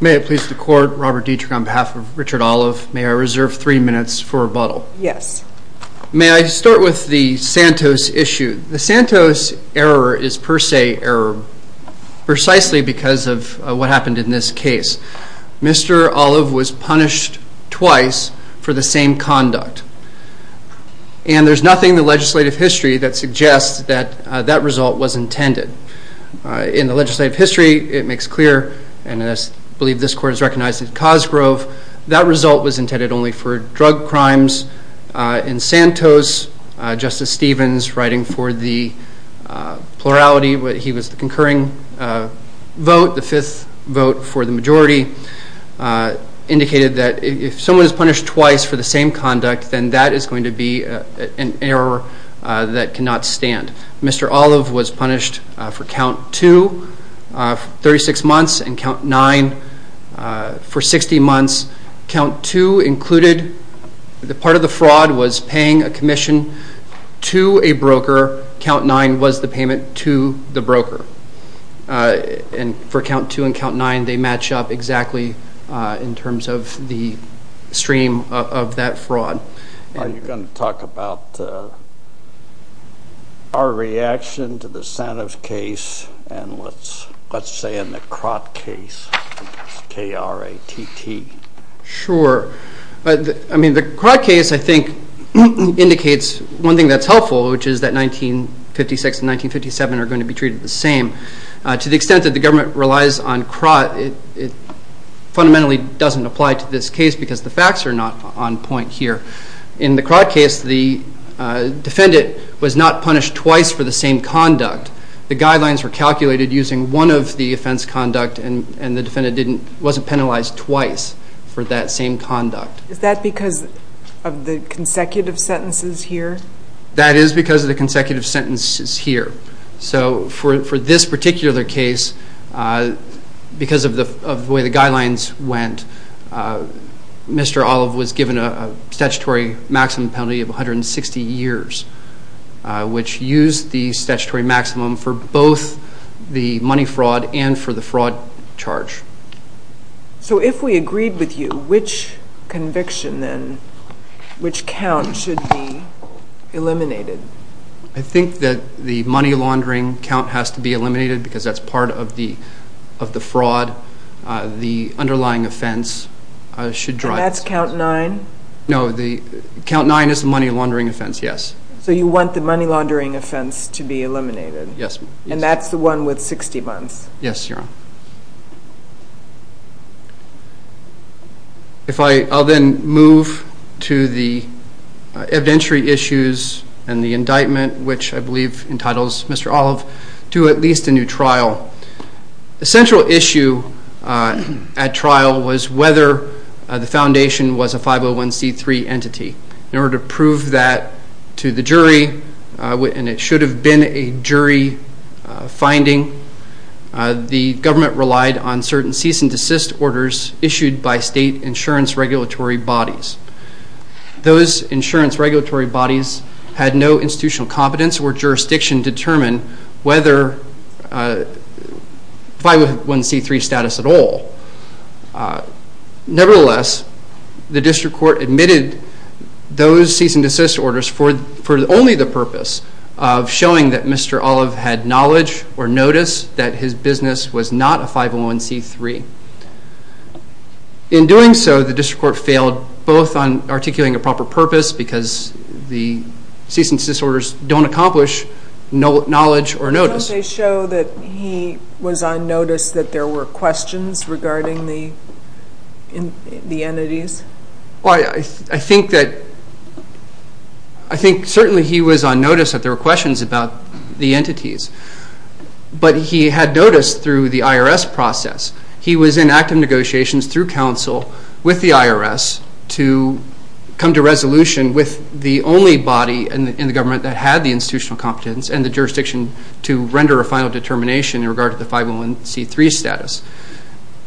May I please the court, Robert Dietrich on behalf of Richard Olive, may I reserve three minutes for rebuttal? Yes. May I start with the Santos issue? The Santos error is per se error, precisely because of what happened in this case. Mr. Olive was punished twice for the same conduct, and there's nothing in the legislative history that suggests that that result was intended. In the legislative history, it makes clear, and I believe this court has recognized it in Cosgrove, that result was intended only for drug crimes. In Santos, Justice Stevens, writing for the plurality, he was the concurring vote, the fifth vote for the majority, indicated that if someone is punished twice for the same conduct, then that is going to be an error that cannot stand. Mr. Olive was punished for count two, 36 months, and count nine for 60 months. Count two included, the part of the fraud was paying a commission to a broker, count nine was the payment to the broker. And for count two and count nine, they match up exactly in terms of the stream of that fraud. John, are you going to talk about our reaction to the Santos case, and let's say in the Crott case, K-R-A-T-T? Sure, I mean the Crott case, I think, indicates one thing that's helpful, which is that 1956 and 1957 are going to be treated the same. To the extent that the government relies on Crott, it fundamentally doesn't apply to this In the Crott case, the defendant was not punished twice for the same conduct. The guidelines were calculated using one of the offense conduct, and the defendant wasn't penalized twice for that same conduct. Is that because of the consecutive sentences here? That is because of the consecutive sentences here. So for this particular case, because of the way the guidelines went, Mr. Olive was given a statutory maximum penalty of 160 years, which used the statutory maximum for both the money fraud and for the fraud charge. So if we agreed with you, which conviction then, which count should be eliminated? I think that the money laundering count has to be eliminated, because that's part of the fraud. The underlying offense should drive this. And that's count nine? No, the count nine is the money laundering offense, yes. So you want the money laundering offense to be eliminated? Yes. And that's the one with 60 months? Yes, Your Honor. If I, I'll then move to the evidentiary issues and the indictment, which I believe entitles Mr. Olive to at least a new trial. The central issue at trial was whether the foundation was a 501c3 entity. In order to prove that to the jury, and it should have been a jury finding, the government relied on certain cease and desist orders issued by state insurance regulatory bodies. Those insurance regulatory bodies had no institutional competence or jurisdiction to determine whether a 501c3 status at all. Nevertheless, the district court admitted those cease and desist orders for only the purpose of showing that Mr. Olive had knowledge or notice that his business was not a 501c3. In doing so, the district court failed both on articulating a proper purpose, because the cease and desist orders don't accomplish knowledge or notice. Didn't they show that he was on notice that there were questions regarding the, the entities? Well, I think that, I think certainly he was on notice that there were questions about the entities. But he had noticed through the IRS process, he was in active negotiations through counsel with the IRS to come to resolution with the only body in the government that had the institutional competence and the jurisdiction to render a final determination in regard to the 501c3 status.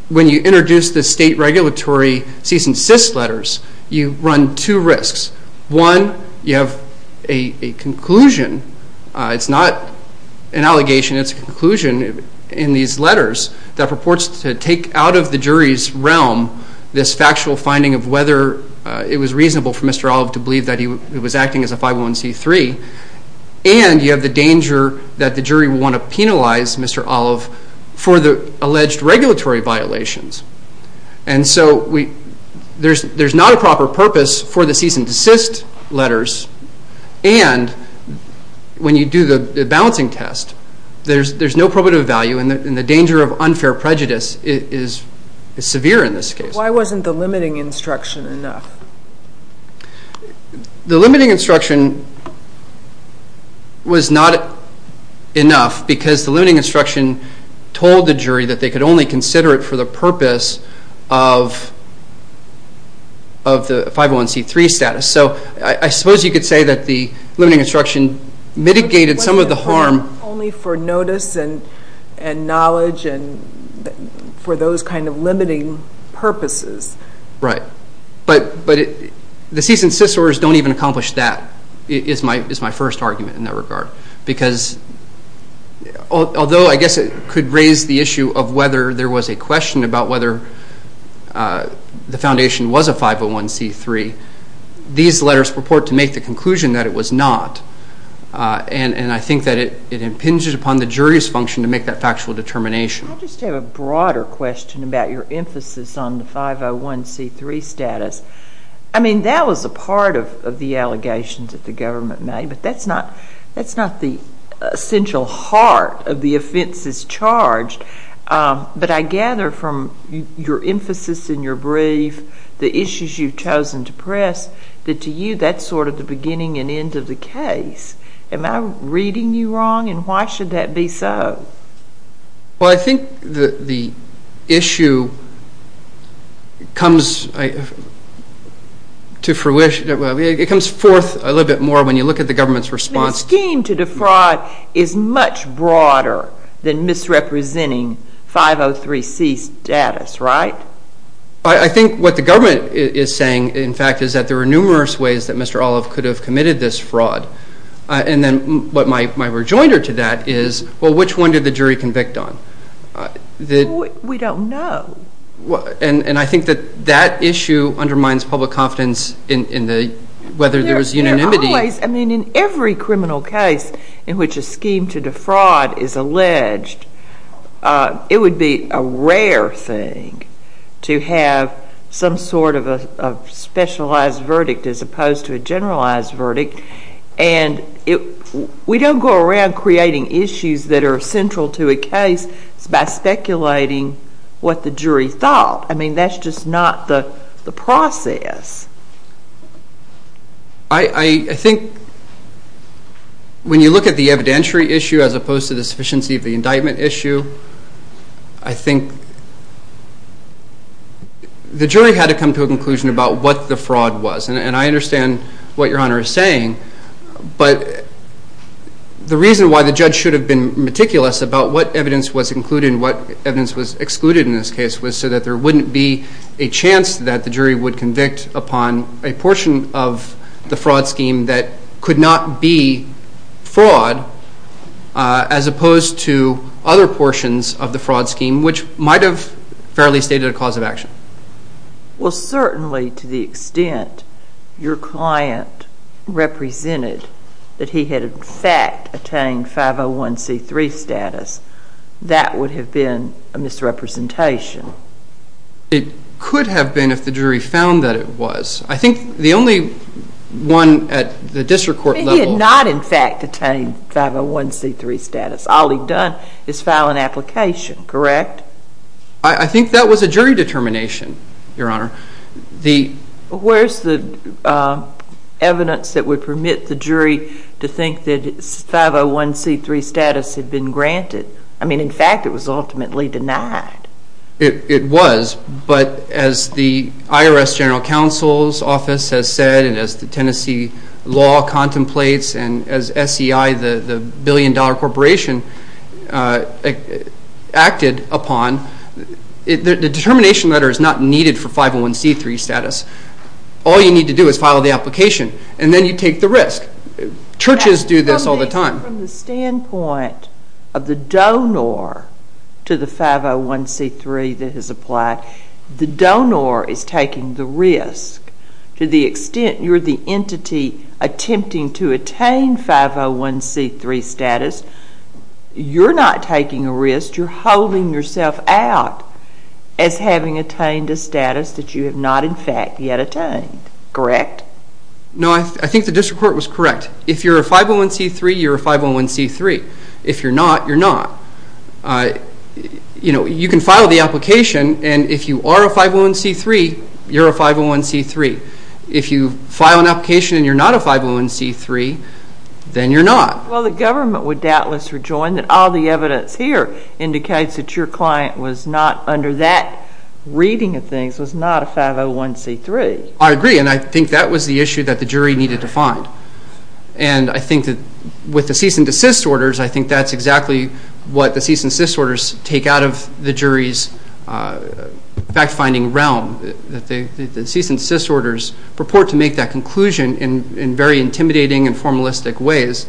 When you introduce the state regulatory cease and desist letters, you run two risks. One, you have a conclusion. It's not an allegation, it's a conclusion in these letters that purports to take out of the jury's realm this factual finding of whether it was reasonable for Mr. Olive to believe that he was acting as a 501c3, and you have the danger that the jury will want to penalize Mr. Olive for the alleged regulatory violations. And so we, there's, there's not a proper purpose for the cease and desist letters, and when you do the balancing test, there's, there's no probative value, and the danger of unfair prejudice is, is severe in this case. Why wasn't the limiting instruction enough? The limiting instruction was not enough because the limiting instruction told the jury that they could only consider it for the purpose of, of the 501c3 status. So I suppose you could say that the limiting instruction mitigated some of the harm. Only for notice and, and knowledge and for those kind of limiting purposes. Right, but, but the cease and desist orders don't even accomplish that, is my, is my first argument in that regard, because although I guess it could raise the issue of whether there was a question about whether the foundation was a 501c3, these letters purport to make the conclusion that it was not, and, and I think that it, it impinges upon the jury's function to make that factual determination. I just have a broader question about your emphasis on the 501c3 status. I mean, that was a part of, of the allegations that the government made, but that's not, that's not the essential heart of the offenses charged, but I gather from your emphasis in your brief, the issues you've chosen to press, that to you, that's sort of the beginning and end of the case. Am I reading you wrong, and why should that be so? Well, I think the, the issue comes to fruition, it comes forth a little bit more when you look at the government's response. And the scheme to defraud is much broader than misrepresenting 503c status, right? I think what the government is saying, in fact, is that there are numerous ways that Mr. Olive could have committed this fraud, and then what my, my rejoinder to that is, well, which one did the jury convict on? We don't know. And I think that that issue undermines public confidence in, in the, whether there was unanimity. I mean, in every criminal case in which a scheme to defraud is alleged, it would be a rare thing to have some sort of a, a specialized verdict as opposed to a generalized verdict. And it, we don't go around creating issues that are central to a case by speculating what the jury thought. I mean, that's just not the, the process. I, I think when you look at the evidentiary issue as opposed to the sufficiency of the indictment issue, I think the jury had to come to a conclusion about what the fraud was. And, and I understand what Your Honor is saying, but the reason why the judge should have been meticulous about what evidence was included and what evidence was excluded in this case was so that there wouldn't be a chance that the jury would convict upon a portion of the fraud scheme that could not be fraud as opposed to other portions of the fraud scheme, which might have fairly stated a cause of action. Well, certainly to the extent your client represented that he had in fact attained 501c3 status, that would have been a misrepresentation. It could have been if the jury found that it was. I think the only one at the district court level. He had not in fact attained 501c3 status. All he'd done is file an application, correct? I think that was a jury determination, Your Honor. The Where's the evidence that would permit the I mean, in fact, it was ultimately denied. It was, but as the IRS General Counsel's office has said and as the Tennessee law contemplates and as SEI, the billion-dollar corporation, acted upon, the determination letter is not needed for 501c3 status. All you need to do is file the application and then you take the risk. Churches do this all the time. From the standpoint of the donor to the 501c3 that has applied, the donor is taking the risk to the extent you're the entity attempting to attain 501c3 status, you're not taking a risk. You're holding yourself out as having attained a status that you have not in fact yet attained, correct? No, I think the district court was correct. If you're a 501c3, you're a 501c3. If you're not, you're not. You can file the application and if you are a 501c3, you're a 501c3. If you file an application and you're not a 501c3, then you're not. Well, the government would doubtless rejoin that all the evidence here indicates that your client was not under that reading of things, was not a 501c3. I agree, and I think that was the issue that the jury needed to find. And I think that with the cease and desist orders, I think that's exactly what the cease and desist orders take out of the jury's fact-finding realm, that the cease and desist orders purport to make that conclusion in very intimidating and formalistic ways.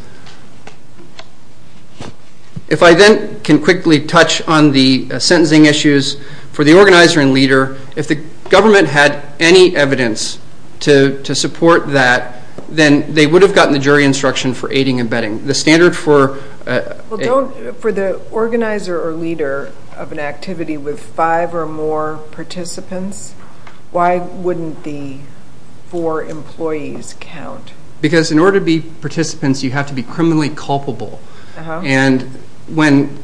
If I then can quickly touch on the sentencing issues for the organizer and leader, if the participants to support that, then they would have gotten the jury instruction for aiding and abetting. The standard for... Well, don't... For the organizer or leader of an activity with five or more participants, why wouldn't the four employees count? Because in order to be participants, you have to be criminally culpable. And when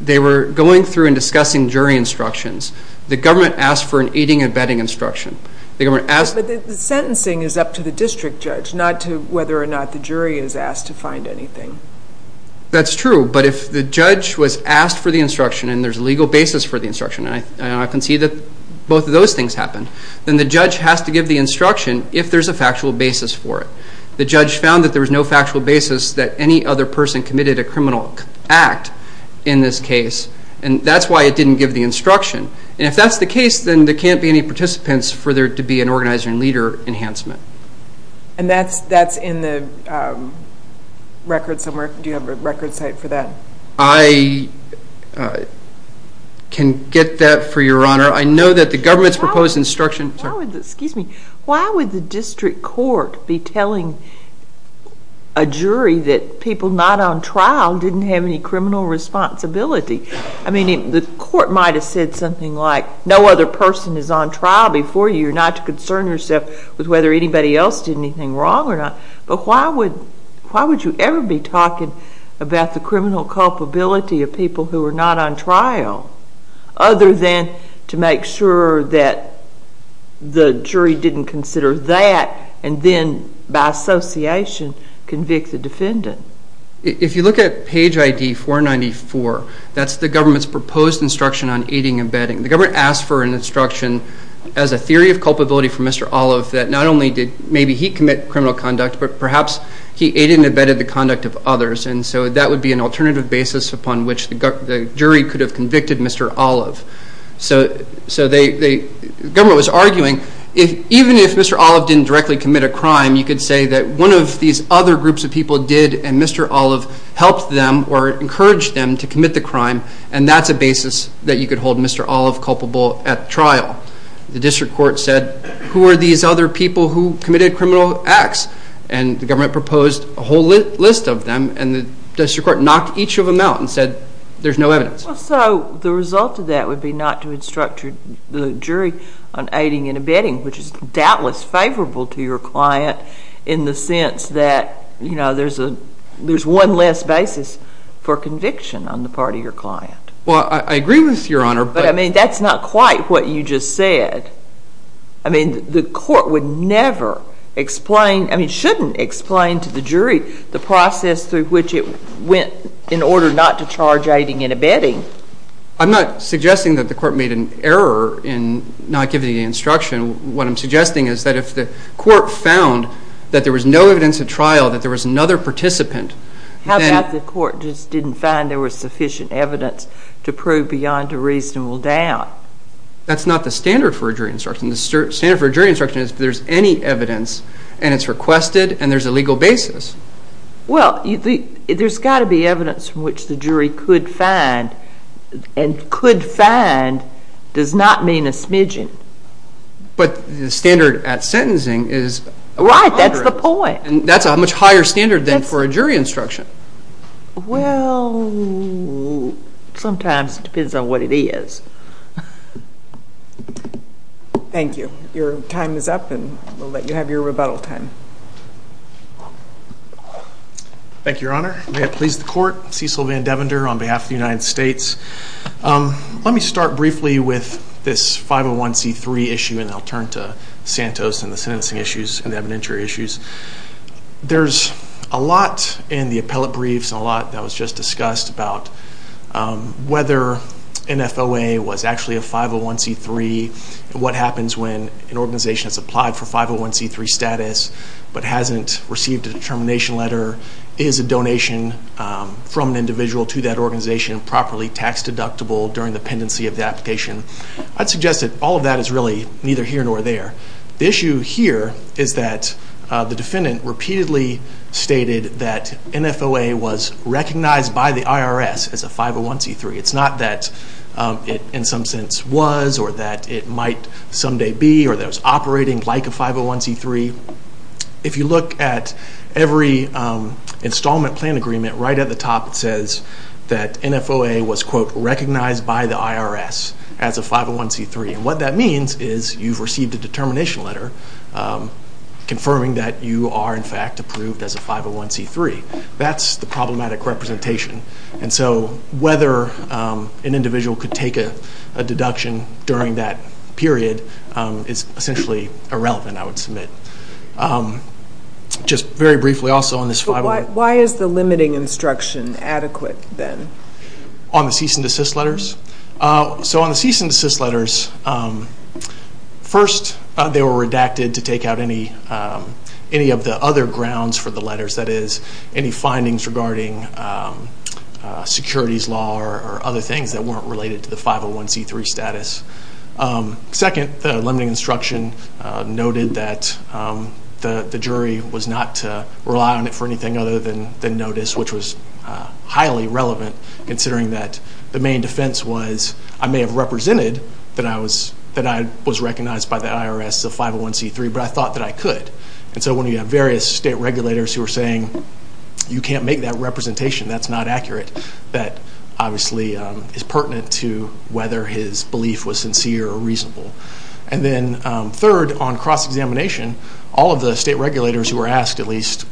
they were going through and discussing jury instructions, the government asked for an aiding and abetting instruction. The government asked... But the sentencing is up to the district judge, not to whether or not the jury is asked to find anything. That's true, but if the judge was asked for the instruction and there's a legal basis for the instruction, and I can see that both of those things happen, then the judge has to give the instruction if there's a factual basis for it. The judge found that there was no factual basis that any other person committed a criminal act in this case, and that's why it didn't give the instruction. And if that's the case, then there can't be any participants for there to be an organizer and leader enhancement. And that's in the record somewhere? Do you have a record site for that? I can get that for your honor. I know that the government's proposed instruction... Why would the... Excuse me. Why would the district court be telling a jury that people not on trial didn't have any criminal responsibility? I mean, the court might have said something like, no other person is on trial before you. You're not to concern yourself with whether anybody else did anything wrong or not. But why would you ever be talking about the criminal culpability of people who are not on trial, other than to make sure that the jury didn't consider that, and then by association convict the defendant? If you look at page ID 494, that's the government's proposed instruction on aiding and abetting. The government asked for an instruction as a theory of culpability for Mr. Olive that not only did maybe he commit criminal conduct, but perhaps he aided and abetted the conduct of others. And so that would be an alternative basis upon which the jury could have convicted Mr. Olive. So the government was arguing, even if Mr. Olive didn't directly commit a crime, you still did, and Mr. Olive helped them or encouraged them to commit the crime, and that's a basis that you could hold Mr. Olive culpable at trial. The district court said, who are these other people who committed criminal acts? And the government proposed a whole list of them, and the district court knocked each of them out and said, there's no evidence. So the result of that would be not to instruct the jury on aiding and abetting, which is one less basis for conviction on the part of your client. Well, I agree with you, Your Honor, but I mean, that's not quite what you just said. I mean, the court would never explain, I mean, shouldn't explain to the jury the process through which it went in order not to charge aiding and abetting. I'm not suggesting that the court made an error in not giving the instruction. What I'm suggesting is that if the court found that there was no evidence at trial, that there was another participant, then... How about if the court just didn't find there was sufficient evidence to prove beyond a reasonable doubt? That's not the standard for a jury instruction. The standard for a jury instruction is if there's any evidence, and it's requested, and there's a legal basis. Well, there's got to be evidence from which the jury could find, and could find does not mean a smidgen. But the standard at sentencing is... Right. That's the point. And that's a much higher standard than for a jury instruction. Well, sometimes it depends on what it is. Thank you. Your time is up, and we'll let you have your rebuttal time. Thank you, Your Honor. May it please the court. Cecil Van Devander on behalf of the United States. Let me start briefly with this 501c3 issue, and I'll turn to Santos and the sentencing issues and the evidentiary issues. There's a lot in the appellate briefs and a lot that was just discussed about whether NFOA was actually a 501c3, what happens when an organization has applied for 501c3 status, but hasn't received a determination letter, is a donation from an individual to that organization properly tax deductible during the pendency of the application. I'd suggest that all of that is really neither here nor there. The issue here is that the defendant repeatedly stated that NFOA was recognized by the IRS as a 501c3. It's not that it in some sense was, or that it might someday be, or that it was operating like a 501c3. If you look at every installment plan agreement, right at the top it says that NFOA was, quote, recognized by the IRS as a 501c3. What that means is you've received a determination letter confirming that you are, in fact, approved as a 501c3. That's the problematic representation, and so whether an individual could take a deduction during that period is essentially irrelevant, I would submit. Just very briefly, also on this 501c3- Why is the limiting instruction adequate, then? On the cease and desist letters? On the cease and desist letters, first, they were redacted to take out any of the other grounds for the letters, that is, any findings regarding securities law or other things that weren't related to the 501c3 status. Second, the limiting instruction noted that the jury was not to rely on it for anything other than notice, which was highly relevant, considering that the main defense was I may have represented that I was recognized by the IRS as a 501c3, but I thought that I could, and so when you have various state regulators who are saying, you can't make that representation, that's not accurate, that obviously is pertinent to whether his belief was sincere or reasonable. And then third, on cross-examination, all of the state regulators who were asked at least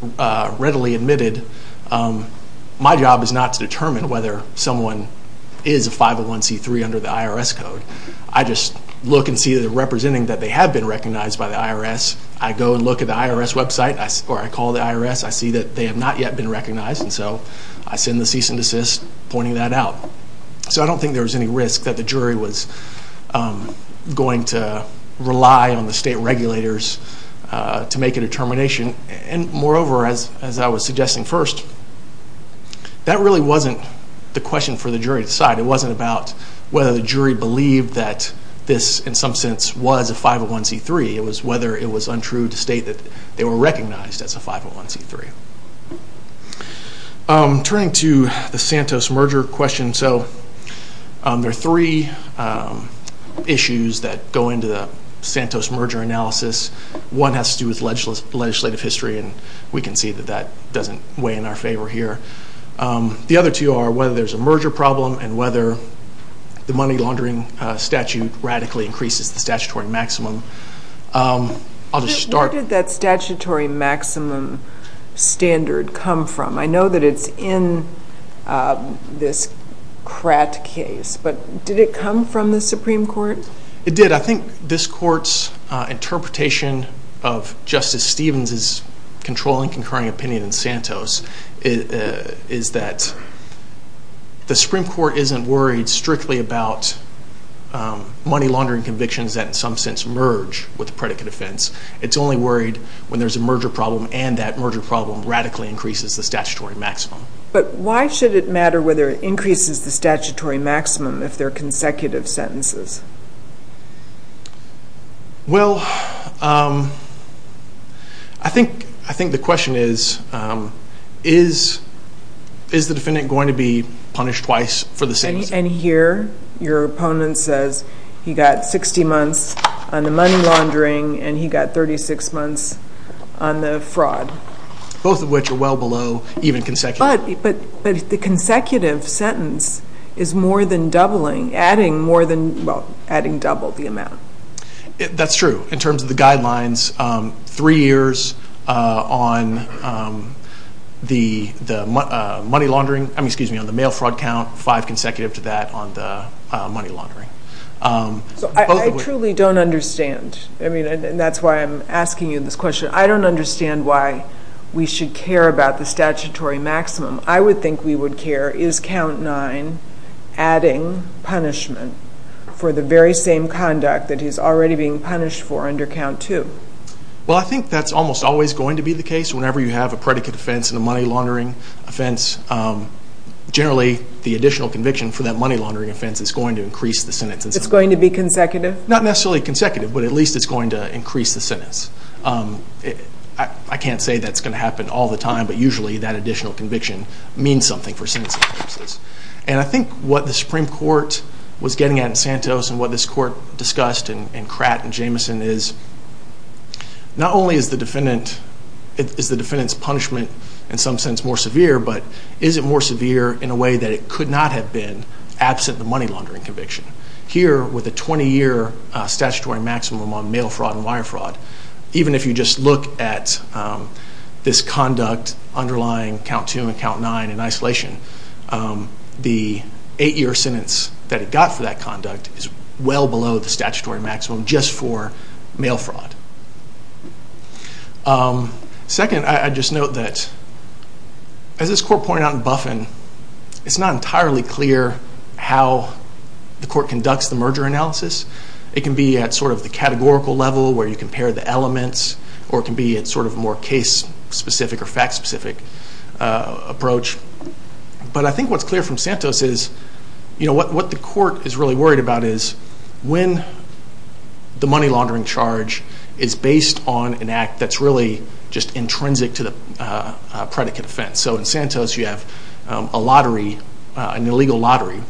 readily admitted, my job is not to determine whether someone is a 501c3 under the IRS code. I just look and see that they're representing that they have been recognized by the IRS. I go and look at the IRS website, or I call the IRS. I see that they have not yet been recognized, and so I send the cease and desist pointing that out. So I don't think there was any risk that the jury was going to rely on the state regulators to make a determination. And moreover, as I was suggesting first, that really wasn't the question for the jury to decide. It wasn't about whether the jury believed that this, in some sense, was a 501c3. It was whether it was untrue to state that they were recognized as a 501c3. Turning to the Santos merger question, so there are three issues that go into the Santos merger analysis. One has to do with legislative history, and we can see that that doesn't weigh in our favor here. The other two are whether there's a merger problem and whether the money laundering statute radically increases the statutory maximum. Where did that statutory maximum standard come from? I know that it's in this Kratt case, but did it come from the Supreme Court? It did. I think this court's interpretation of Justice Stevens's controlling concurring opinion in Santos is that the Supreme Court isn't worried strictly about money laundering convictions that, in some sense, merge with the predicate offense. It's only worried when there's a merger problem, and that merger problem radically increases the statutory maximum. But why should it matter whether it increases the statutory maximum if they're consecutive sentences? Well, I think the question is, is the defendant going to be punished twice for the same sentence? And here, your opponent says he got 60 months on the money laundering and he got 36 months on the fraud. Both of which are well below even consecutive. But the consecutive sentence is more than doubling, adding more than, well, adding double the amount. That's true. In terms of the guidelines, three years on the mail fraud count, five consecutive to that on the money laundering. I truly don't understand. I mean, and that's why I'm asking you this question. I don't understand why we should care about the statutory maximum. I would think we would care, is count nine adding punishment for the very same conduct that he's already being punished for under count two? Well, I think that's almost always going to be the case. Whenever you have a predicate offense and a money laundering offense, generally the additional conviction for that money laundering offense is going to increase the sentence. It's going to be consecutive? Not necessarily consecutive, but at least it's going to increase the sentence. I can't say that's going to happen all the time, but usually that additional conviction means something for sentencing purposes. And I think what the Supreme Court was getting at in Santos and what this court discussed in Kratt and Jamison is, not only is the defendant's punishment in some sense more severe, but is it more severe in a way that it could not have been absent the money laundering conviction? Here, with a 20-year statutory maximum on mail fraud and wire fraud, even if you just look at this conduct underlying count two and count nine in isolation, the eight-year sentence that it got for that conduct is well below the statutory maximum just for mail fraud. Second, I just note that, as this court pointed out in Buffen, it's not entirely clear how the court conducts the merger analysis. It can be at the categorical level where you compare the elements, or it can be at a more case-specific or fact-specific approach. But I think what's clear from Santos is what the court is really worried about is when the money laundering charge is based on an act that's really just intrinsic to the predicate offense. In Santos, you have an illegal lottery.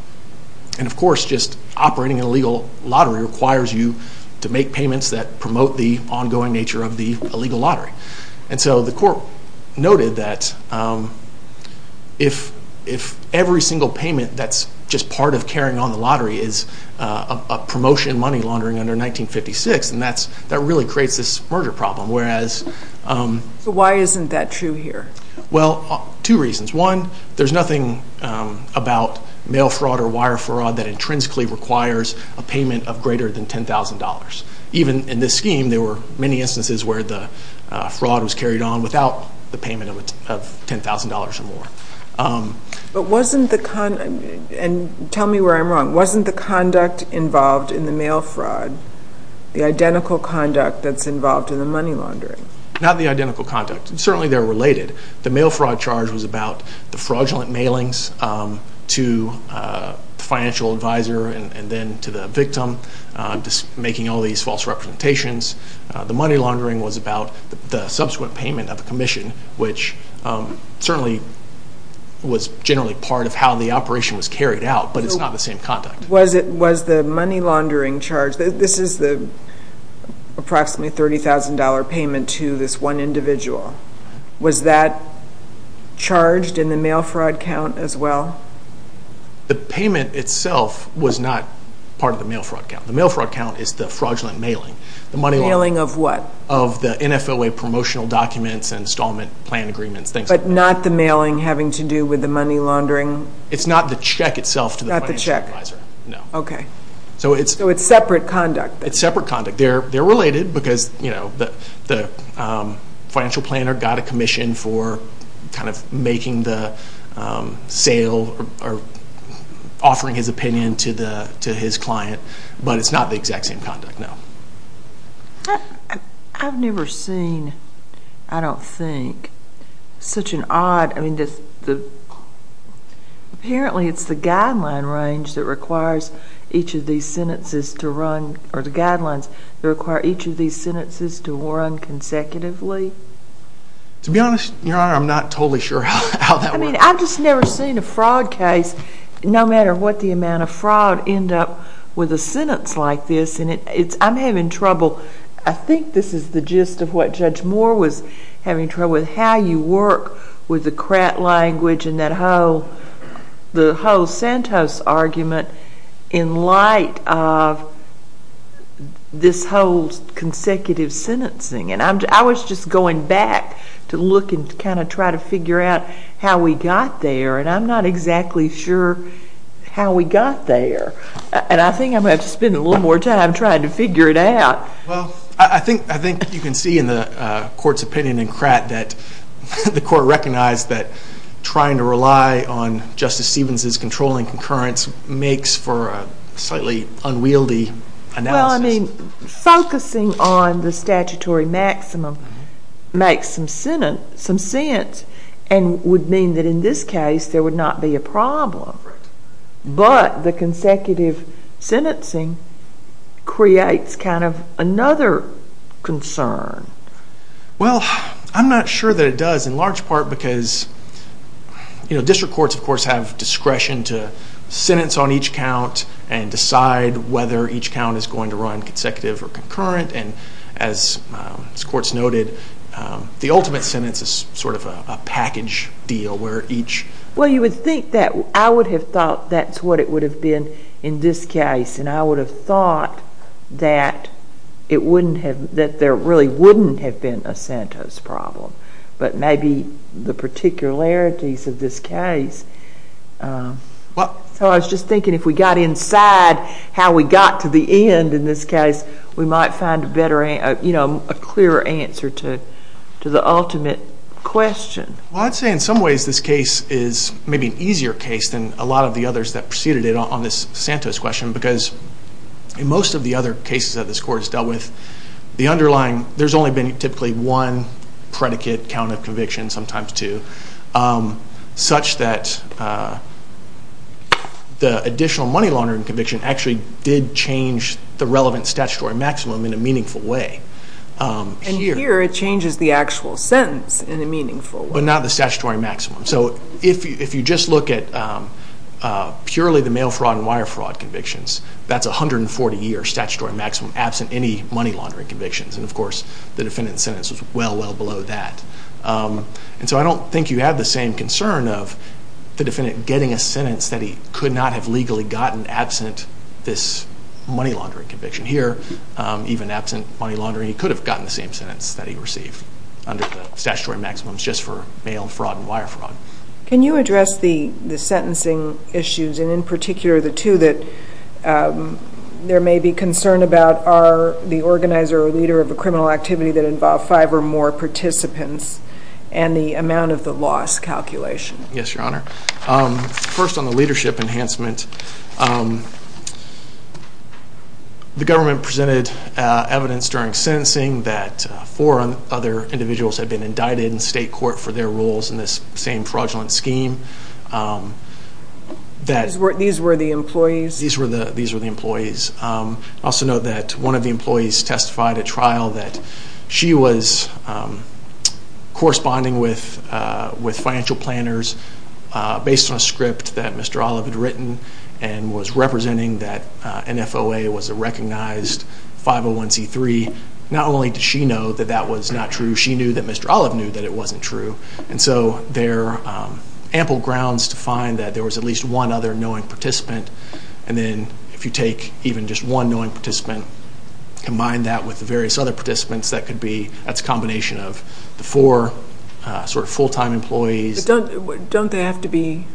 And of course, just operating an illegal lottery requires you to make payments that promote the ongoing nature of the illegal lottery. And so the court noted that if every single payment that's just part of carrying on the lottery is a promotion money laundering under 1956, then that really creates this merger problem. Whereas... So why isn't that true here? Well, two reasons. One, there's nothing about mail fraud or wire fraud that intrinsically requires a payment of greater than $10,000. Even in this scheme, there were many instances where the fraud was carried on without the payment of $10,000 or more. But wasn't the... And tell me where I'm wrong. Wasn't the conduct involved in the mail fraud the identical conduct that's involved in the money laundering? Not the identical conduct. Certainly, they're related. The mail fraud charge was about the fraudulent mailings to the financial advisor and then to the victim, making all these false representations. The money laundering was about the subsequent payment of a commission, which certainly was generally part of how the operation was carried out, but it's not the same conduct. Was the money laundering charge... This is the approximately $30,000 payment to this one individual. Was that charged in the mail fraud count as well? The payment itself was not part of the mail fraud count. The mail fraud count is the fraudulent mailing. The money laundering... Mailing of what? Of the NFOA promotional documents, installment plan agreements, things like that. But not the mailing having to do with the money laundering? It's not the check itself to the financial advisor. Not the check. No. Okay. So it's... So it's separate conduct then? It's separate conduct. They're related because the financial planner got a commission for making the sale or offering his opinion to his client, but it's not the exact same conduct, no. I've never seen, I don't think, such an odd... Apparently, it's the guideline range that requires each of these sentences to run, or they require each of these sentences to run consecutively. To be honest, Your Honor, I'm not totally sure how that works. I mean, I've just never seen a fraud case, no matter what the amount of fraud, end up with a sentence like this, and I'm having trouble. I think this is the gist of what Judge Moore was having trouble with, how you work with whole consecutive sentencing. And I was just going back to look and kind of try to figure out how we got there, and I'm not exactly sure how we got there. And I think I'm going to have to spend a little more time trying to figure it out. Well, I think you can see in the Court's opinion in Kratt that the Court recognized that trying to rely on Justice Stevens' controlling concurrence makes for a slightly unwieldy analysis. Well, I mean, focusing on the statutory maximum makes some sense, and would mean that in this case there would not be a problem. But the consecutive sentencing creates kind of another concern. Well, I'm not sure that it does, in large part because district courts, of course, have to run consecutive or concurrent, and as this Court's noted, the ultimate sentence is sort of a package deal where each... Well, you would think that, I would have thought that's what it would have been in this case, and I would have thought that it wouldn't have, that there really wouldn't have been a Santos problem. But maybe the particularities of this case, so I was just thinking if we got inside how we got to the end in this case, we might find a better, you know, a clearer answer to the ultimate question. Well, I'd say in some ways this case is maybe an easier case than a lot of the others that preceded it on this Santos question, because in most of the other cases that this Court has dealt with, the underlying... There's only been typically one predicate count of conviction, sometimes two, such that the additional money laundering conviction actually did change the relevant statutory maximum in a meaningful way. And here it changes the actual sentence in a meaningful way. But not the statutory maximum. So if you just look at purely the mail fraud and wire fraud convictions, that's 140 years statutory maximum absent any money laundering convictions, and of course the defendant's sentence was well, well below that. And so I don't think you have the same concern of the defendant getting a sentence that he could not have legally gotten absent this money laundering conviction. Here, even absent money laundering, he could have gotten the same sentence that he received under the statutory maximums just for mail fraud and wire fraud. Can you address the sentencing issues, and in particular the two that there may be concern about, are the organizer or leader of a criminal activity that involved five or more participants, and the amount of the loss calculation? Yes, Your Honor. First on the leadership enhancement, the government presented evidence during sentencing that four other individuals had been indicted in state court for their roles in this same fraudulent scheme. These were the employees? These were the employees. I also know that one of the employees testified at trial that she was corresponding with financial planners based on a script that Mr. Olive had written and was representing that NFOA was a recognized 501c3. Not only did she know that that was not true, she knew that Mr. Olive knew that it wasn't true. And so there are ample grounds to find that there was at least one other knowing participant. And then if you take even just one knowing participant, combine that with the various other participants, that's a combination of the four full-time employees. Don't they have to be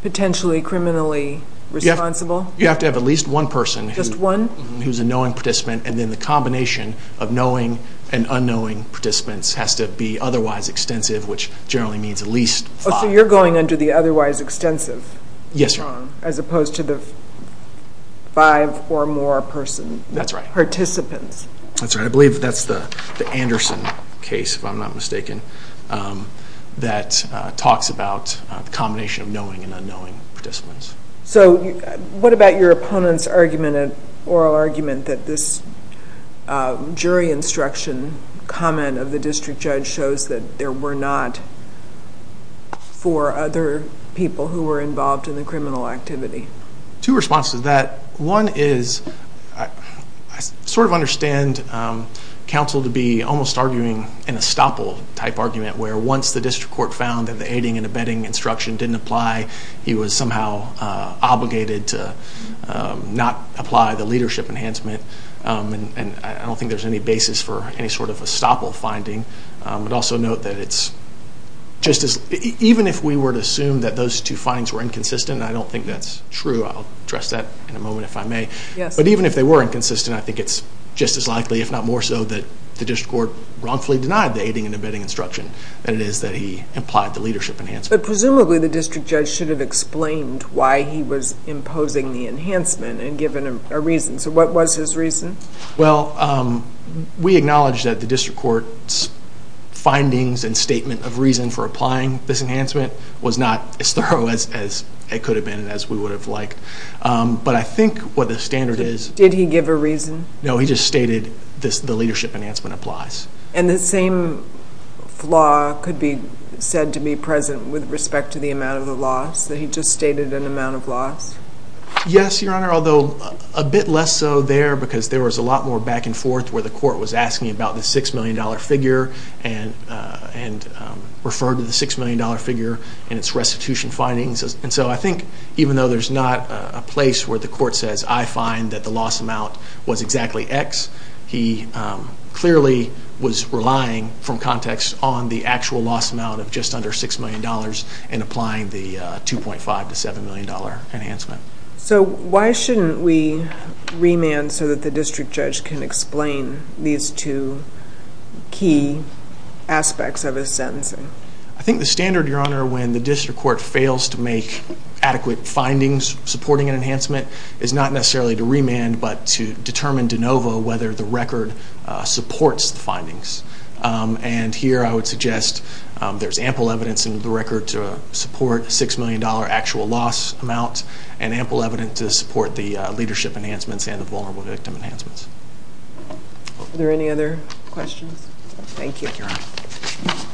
potentially criminally responsible? You have to have at least one person who's a knowing participant, and then the combination of knowing and unknowing participants has to be otherwise extensive, which generally means at least five. So you're going under the otherwise extensive as opposed to the five or more participants? That's right. I believe that's the Anderson case, if I'm not mistaken, that talks about the combination of knowing and unknowing participants. So what about your opponent's argument, oral argument, that this jury instruction comment of the district judge shows that there were not four other people who were involved in the criminal activity? Two responses to that. One is I sort of understand counsel to be almost arguing an estoppel-type argument, where once the district court found that the aiding and abetting instruction didn't apply, he was somehow obligated to not apply the leadership enhancement. I don't think there's any basis for any sort of estoppel finding. I'd also note that even if we were to assume that those two findings were inconsistent, I don't think that's true. I'll address that in a moment if I may. But even if they were inconsistent, I think it's just as likely, if not more so, that the district court wrongfully denied the aiding and abetting instruction than it is that he implied the leadership enhancement. But presumably the district judge should have explained why he was imposing the enhancement and given a reason. So what was his reason? Well, we acknowledge that the district court's findings and statement of reason for applying this enhancement was not as thorough as it could have been and as we would have liked. But I think what the standard is... Did he give a reason? No, he just stated the leadership enhancement applies. And the same flaw could be said to be present with respect to the amount of the loss, that he just stated an amount of loss? Yes, Your Honor, although a bit less so there because there was a lot more back and forth where the court was asking about the $6 million figure and referred to the $6 million figure and its restitution findings. And so I think even though there's not a place where the court says, I find that the loss amount was exactly X, he clearly was relying, from context, on the actual loss amount of just under $6 million in applying the $2.5 to $7 million enhancement. So why shouldn't we remand so that the district judge can explain these two key aspects of his sentencing? I think the standard, Your Honor, when the district court fails to make adequate findings supporting an enhancement is not necessarily to remand but to determine de novo whether the record supports the findings. And here I would suggest there's ample evidence in the record to support $6 million actual loss amount and ample evidence to support the leadership enhancements and the vulnerable victim enhancements. Are there any other questions? Thank you, Your Honor.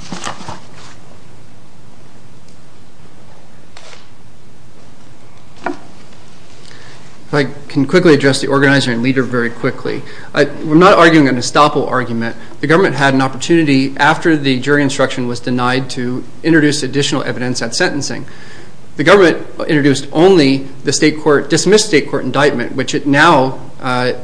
If I can quickly address the organizer and leader very quickly. I'm not arguing an estoppel argument. The government had an opportunity after the jury instruction was denied to introduce additional evidence at sentencing. The government introduced only the state court, dismissed state court indictment, which it now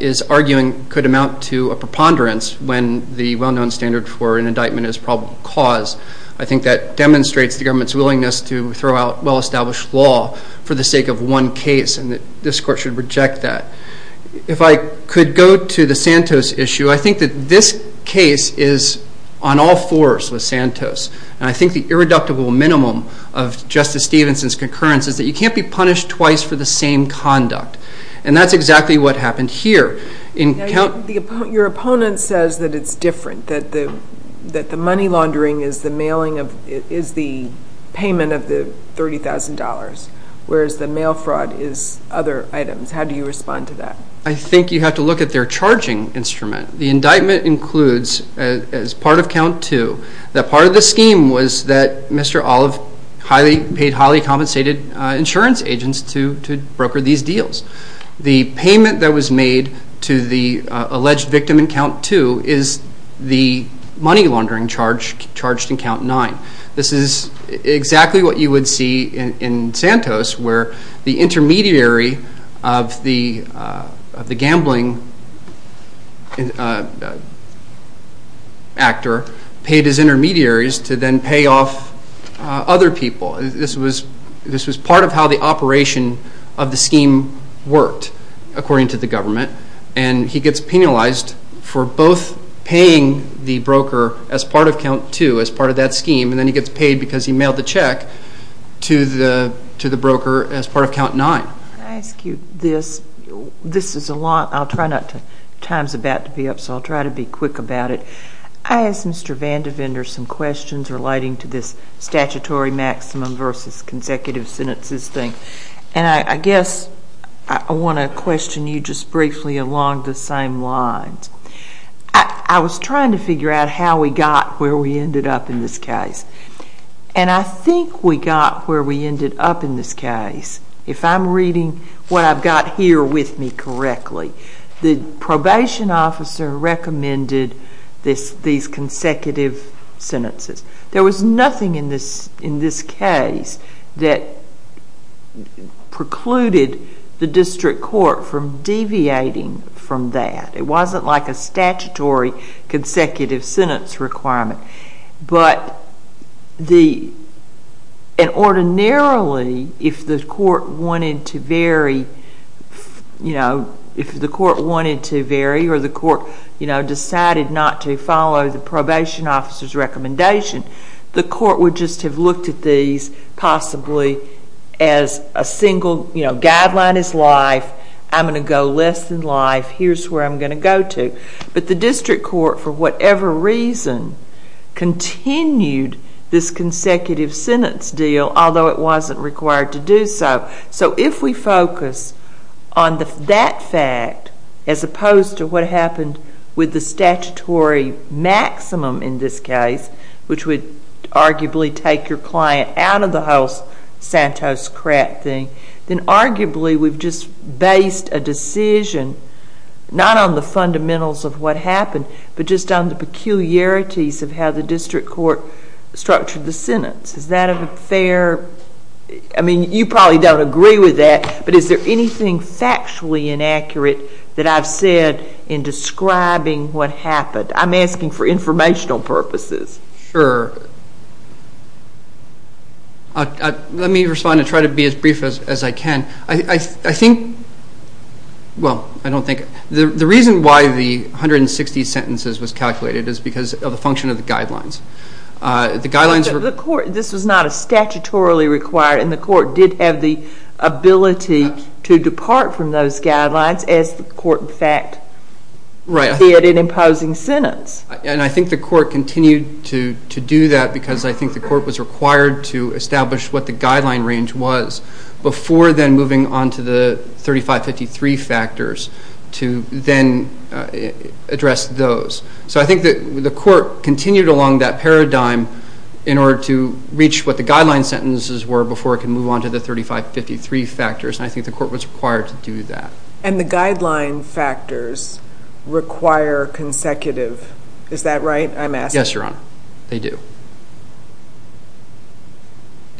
is arguing could amount to a preponderance when the well-known standard for an indictment is probable cause. I think that demonstrates the government's willingness to throw out well-established law for the sake of one case, and this court should reject that. If I could go to the Santos issue, I think that this case is on all fours with Santos. I think the irreducible minimum of Justice Stevenson's concurrence is that you can't be punished twice for the same conduct. And that's exactly what happened here. Your opponent says that it's different, that the money laundering is the payment of the $30,000, whereas the mail fraud is other items. How do you respond to that? I think you have to look at their charging instrument. The indictment includes, as part of count two, that part of the scheme was that Mr. Olive paid highly compensated insurance agents to broker these deals. The payment that was made to the alleged victim in count two is the money laundering charge charged in count nine. This is exactly what you would see in Santos, where the intermediary of the gambling actor paid his intermediaries to then pay off other people. This was part of how the operation of the scheme worked, according to the government. He gets penalized for both paying the broker as part of count two, as part of that scheme, and then he gets paid because he mailed the check to the broker as part of count nine. Can I ask you this? This is a lot. I'll try not to. Time's about to be up, so I'll try to be quick about it. I asked Mr. Vandevender some questions relating to this statutory maximum versus consecutive sentences thing. I guess I want to question you just briefly along the same lines. I was trying to figure out how we got where we ended up in this case. I think we got where we ended up in this case. If I'm reading what I've got here with me correctly, the probation officer recommended these consecutive sentences. There was nothing in this case that precluded the district court from deviating from that. It wasn't like a statutory consecutive sentence requirement, but ordinarily, if the court wanted to vary or the court decided not to follow the probation officer's recommendation, the court would just have looked at these possibly as a single, you know, guideline is life. I'm going to go less than life. Here's where I'm going to go to, but the district court, for whatever reason, continued this consecutive sentence deal, although it wasn't required to do so. If we focus on that fact, as opposed to what happened with the statutory maximum in this case, which would arguably take your client out of the whole Santos crap thing, then arguably we've just based a decision, not on the fundamentals of what happened, but just on the peculiarities of how the district court structured the sentence. Is that a fair? I mean, you probably don't agree with that, but is there anything factually inaccurate that I've said in describing what happened? I'm asking for informational purposes. Sure. Let me respond and try to be as brief as I can. I think, well, I don't think, the reason why the 160 sentences was calculated is because of the function of the guidelines. The guidelines were- The court, this was not a statutorily required, and the court did have the ability to depart from those guidelines, as the court, in fact, did in imposing sentence. I think the court continued to do that because I think the court was required to establish what the guideline range was before then moving on to the 3553 factors to then address those. So I think that the court continued along that paradigm in order to reach what the guideline sentences were before it can move on to the 3553 factors, and I think the court was required to do that. And the guideline factors require consecutive. Is that right? I'm asking- Yes, Your Honor. They do.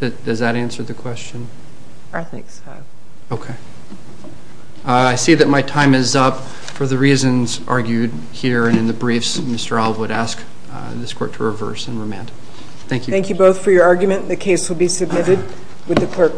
Does that answer the question? I think so. Okay. I see that my time is up for the reasons argued here and in the briefs. Mr. Alwood, I ask this court to reverse and remand. Thank you. Thank you both for your argument. The case will be submitted with the clerk.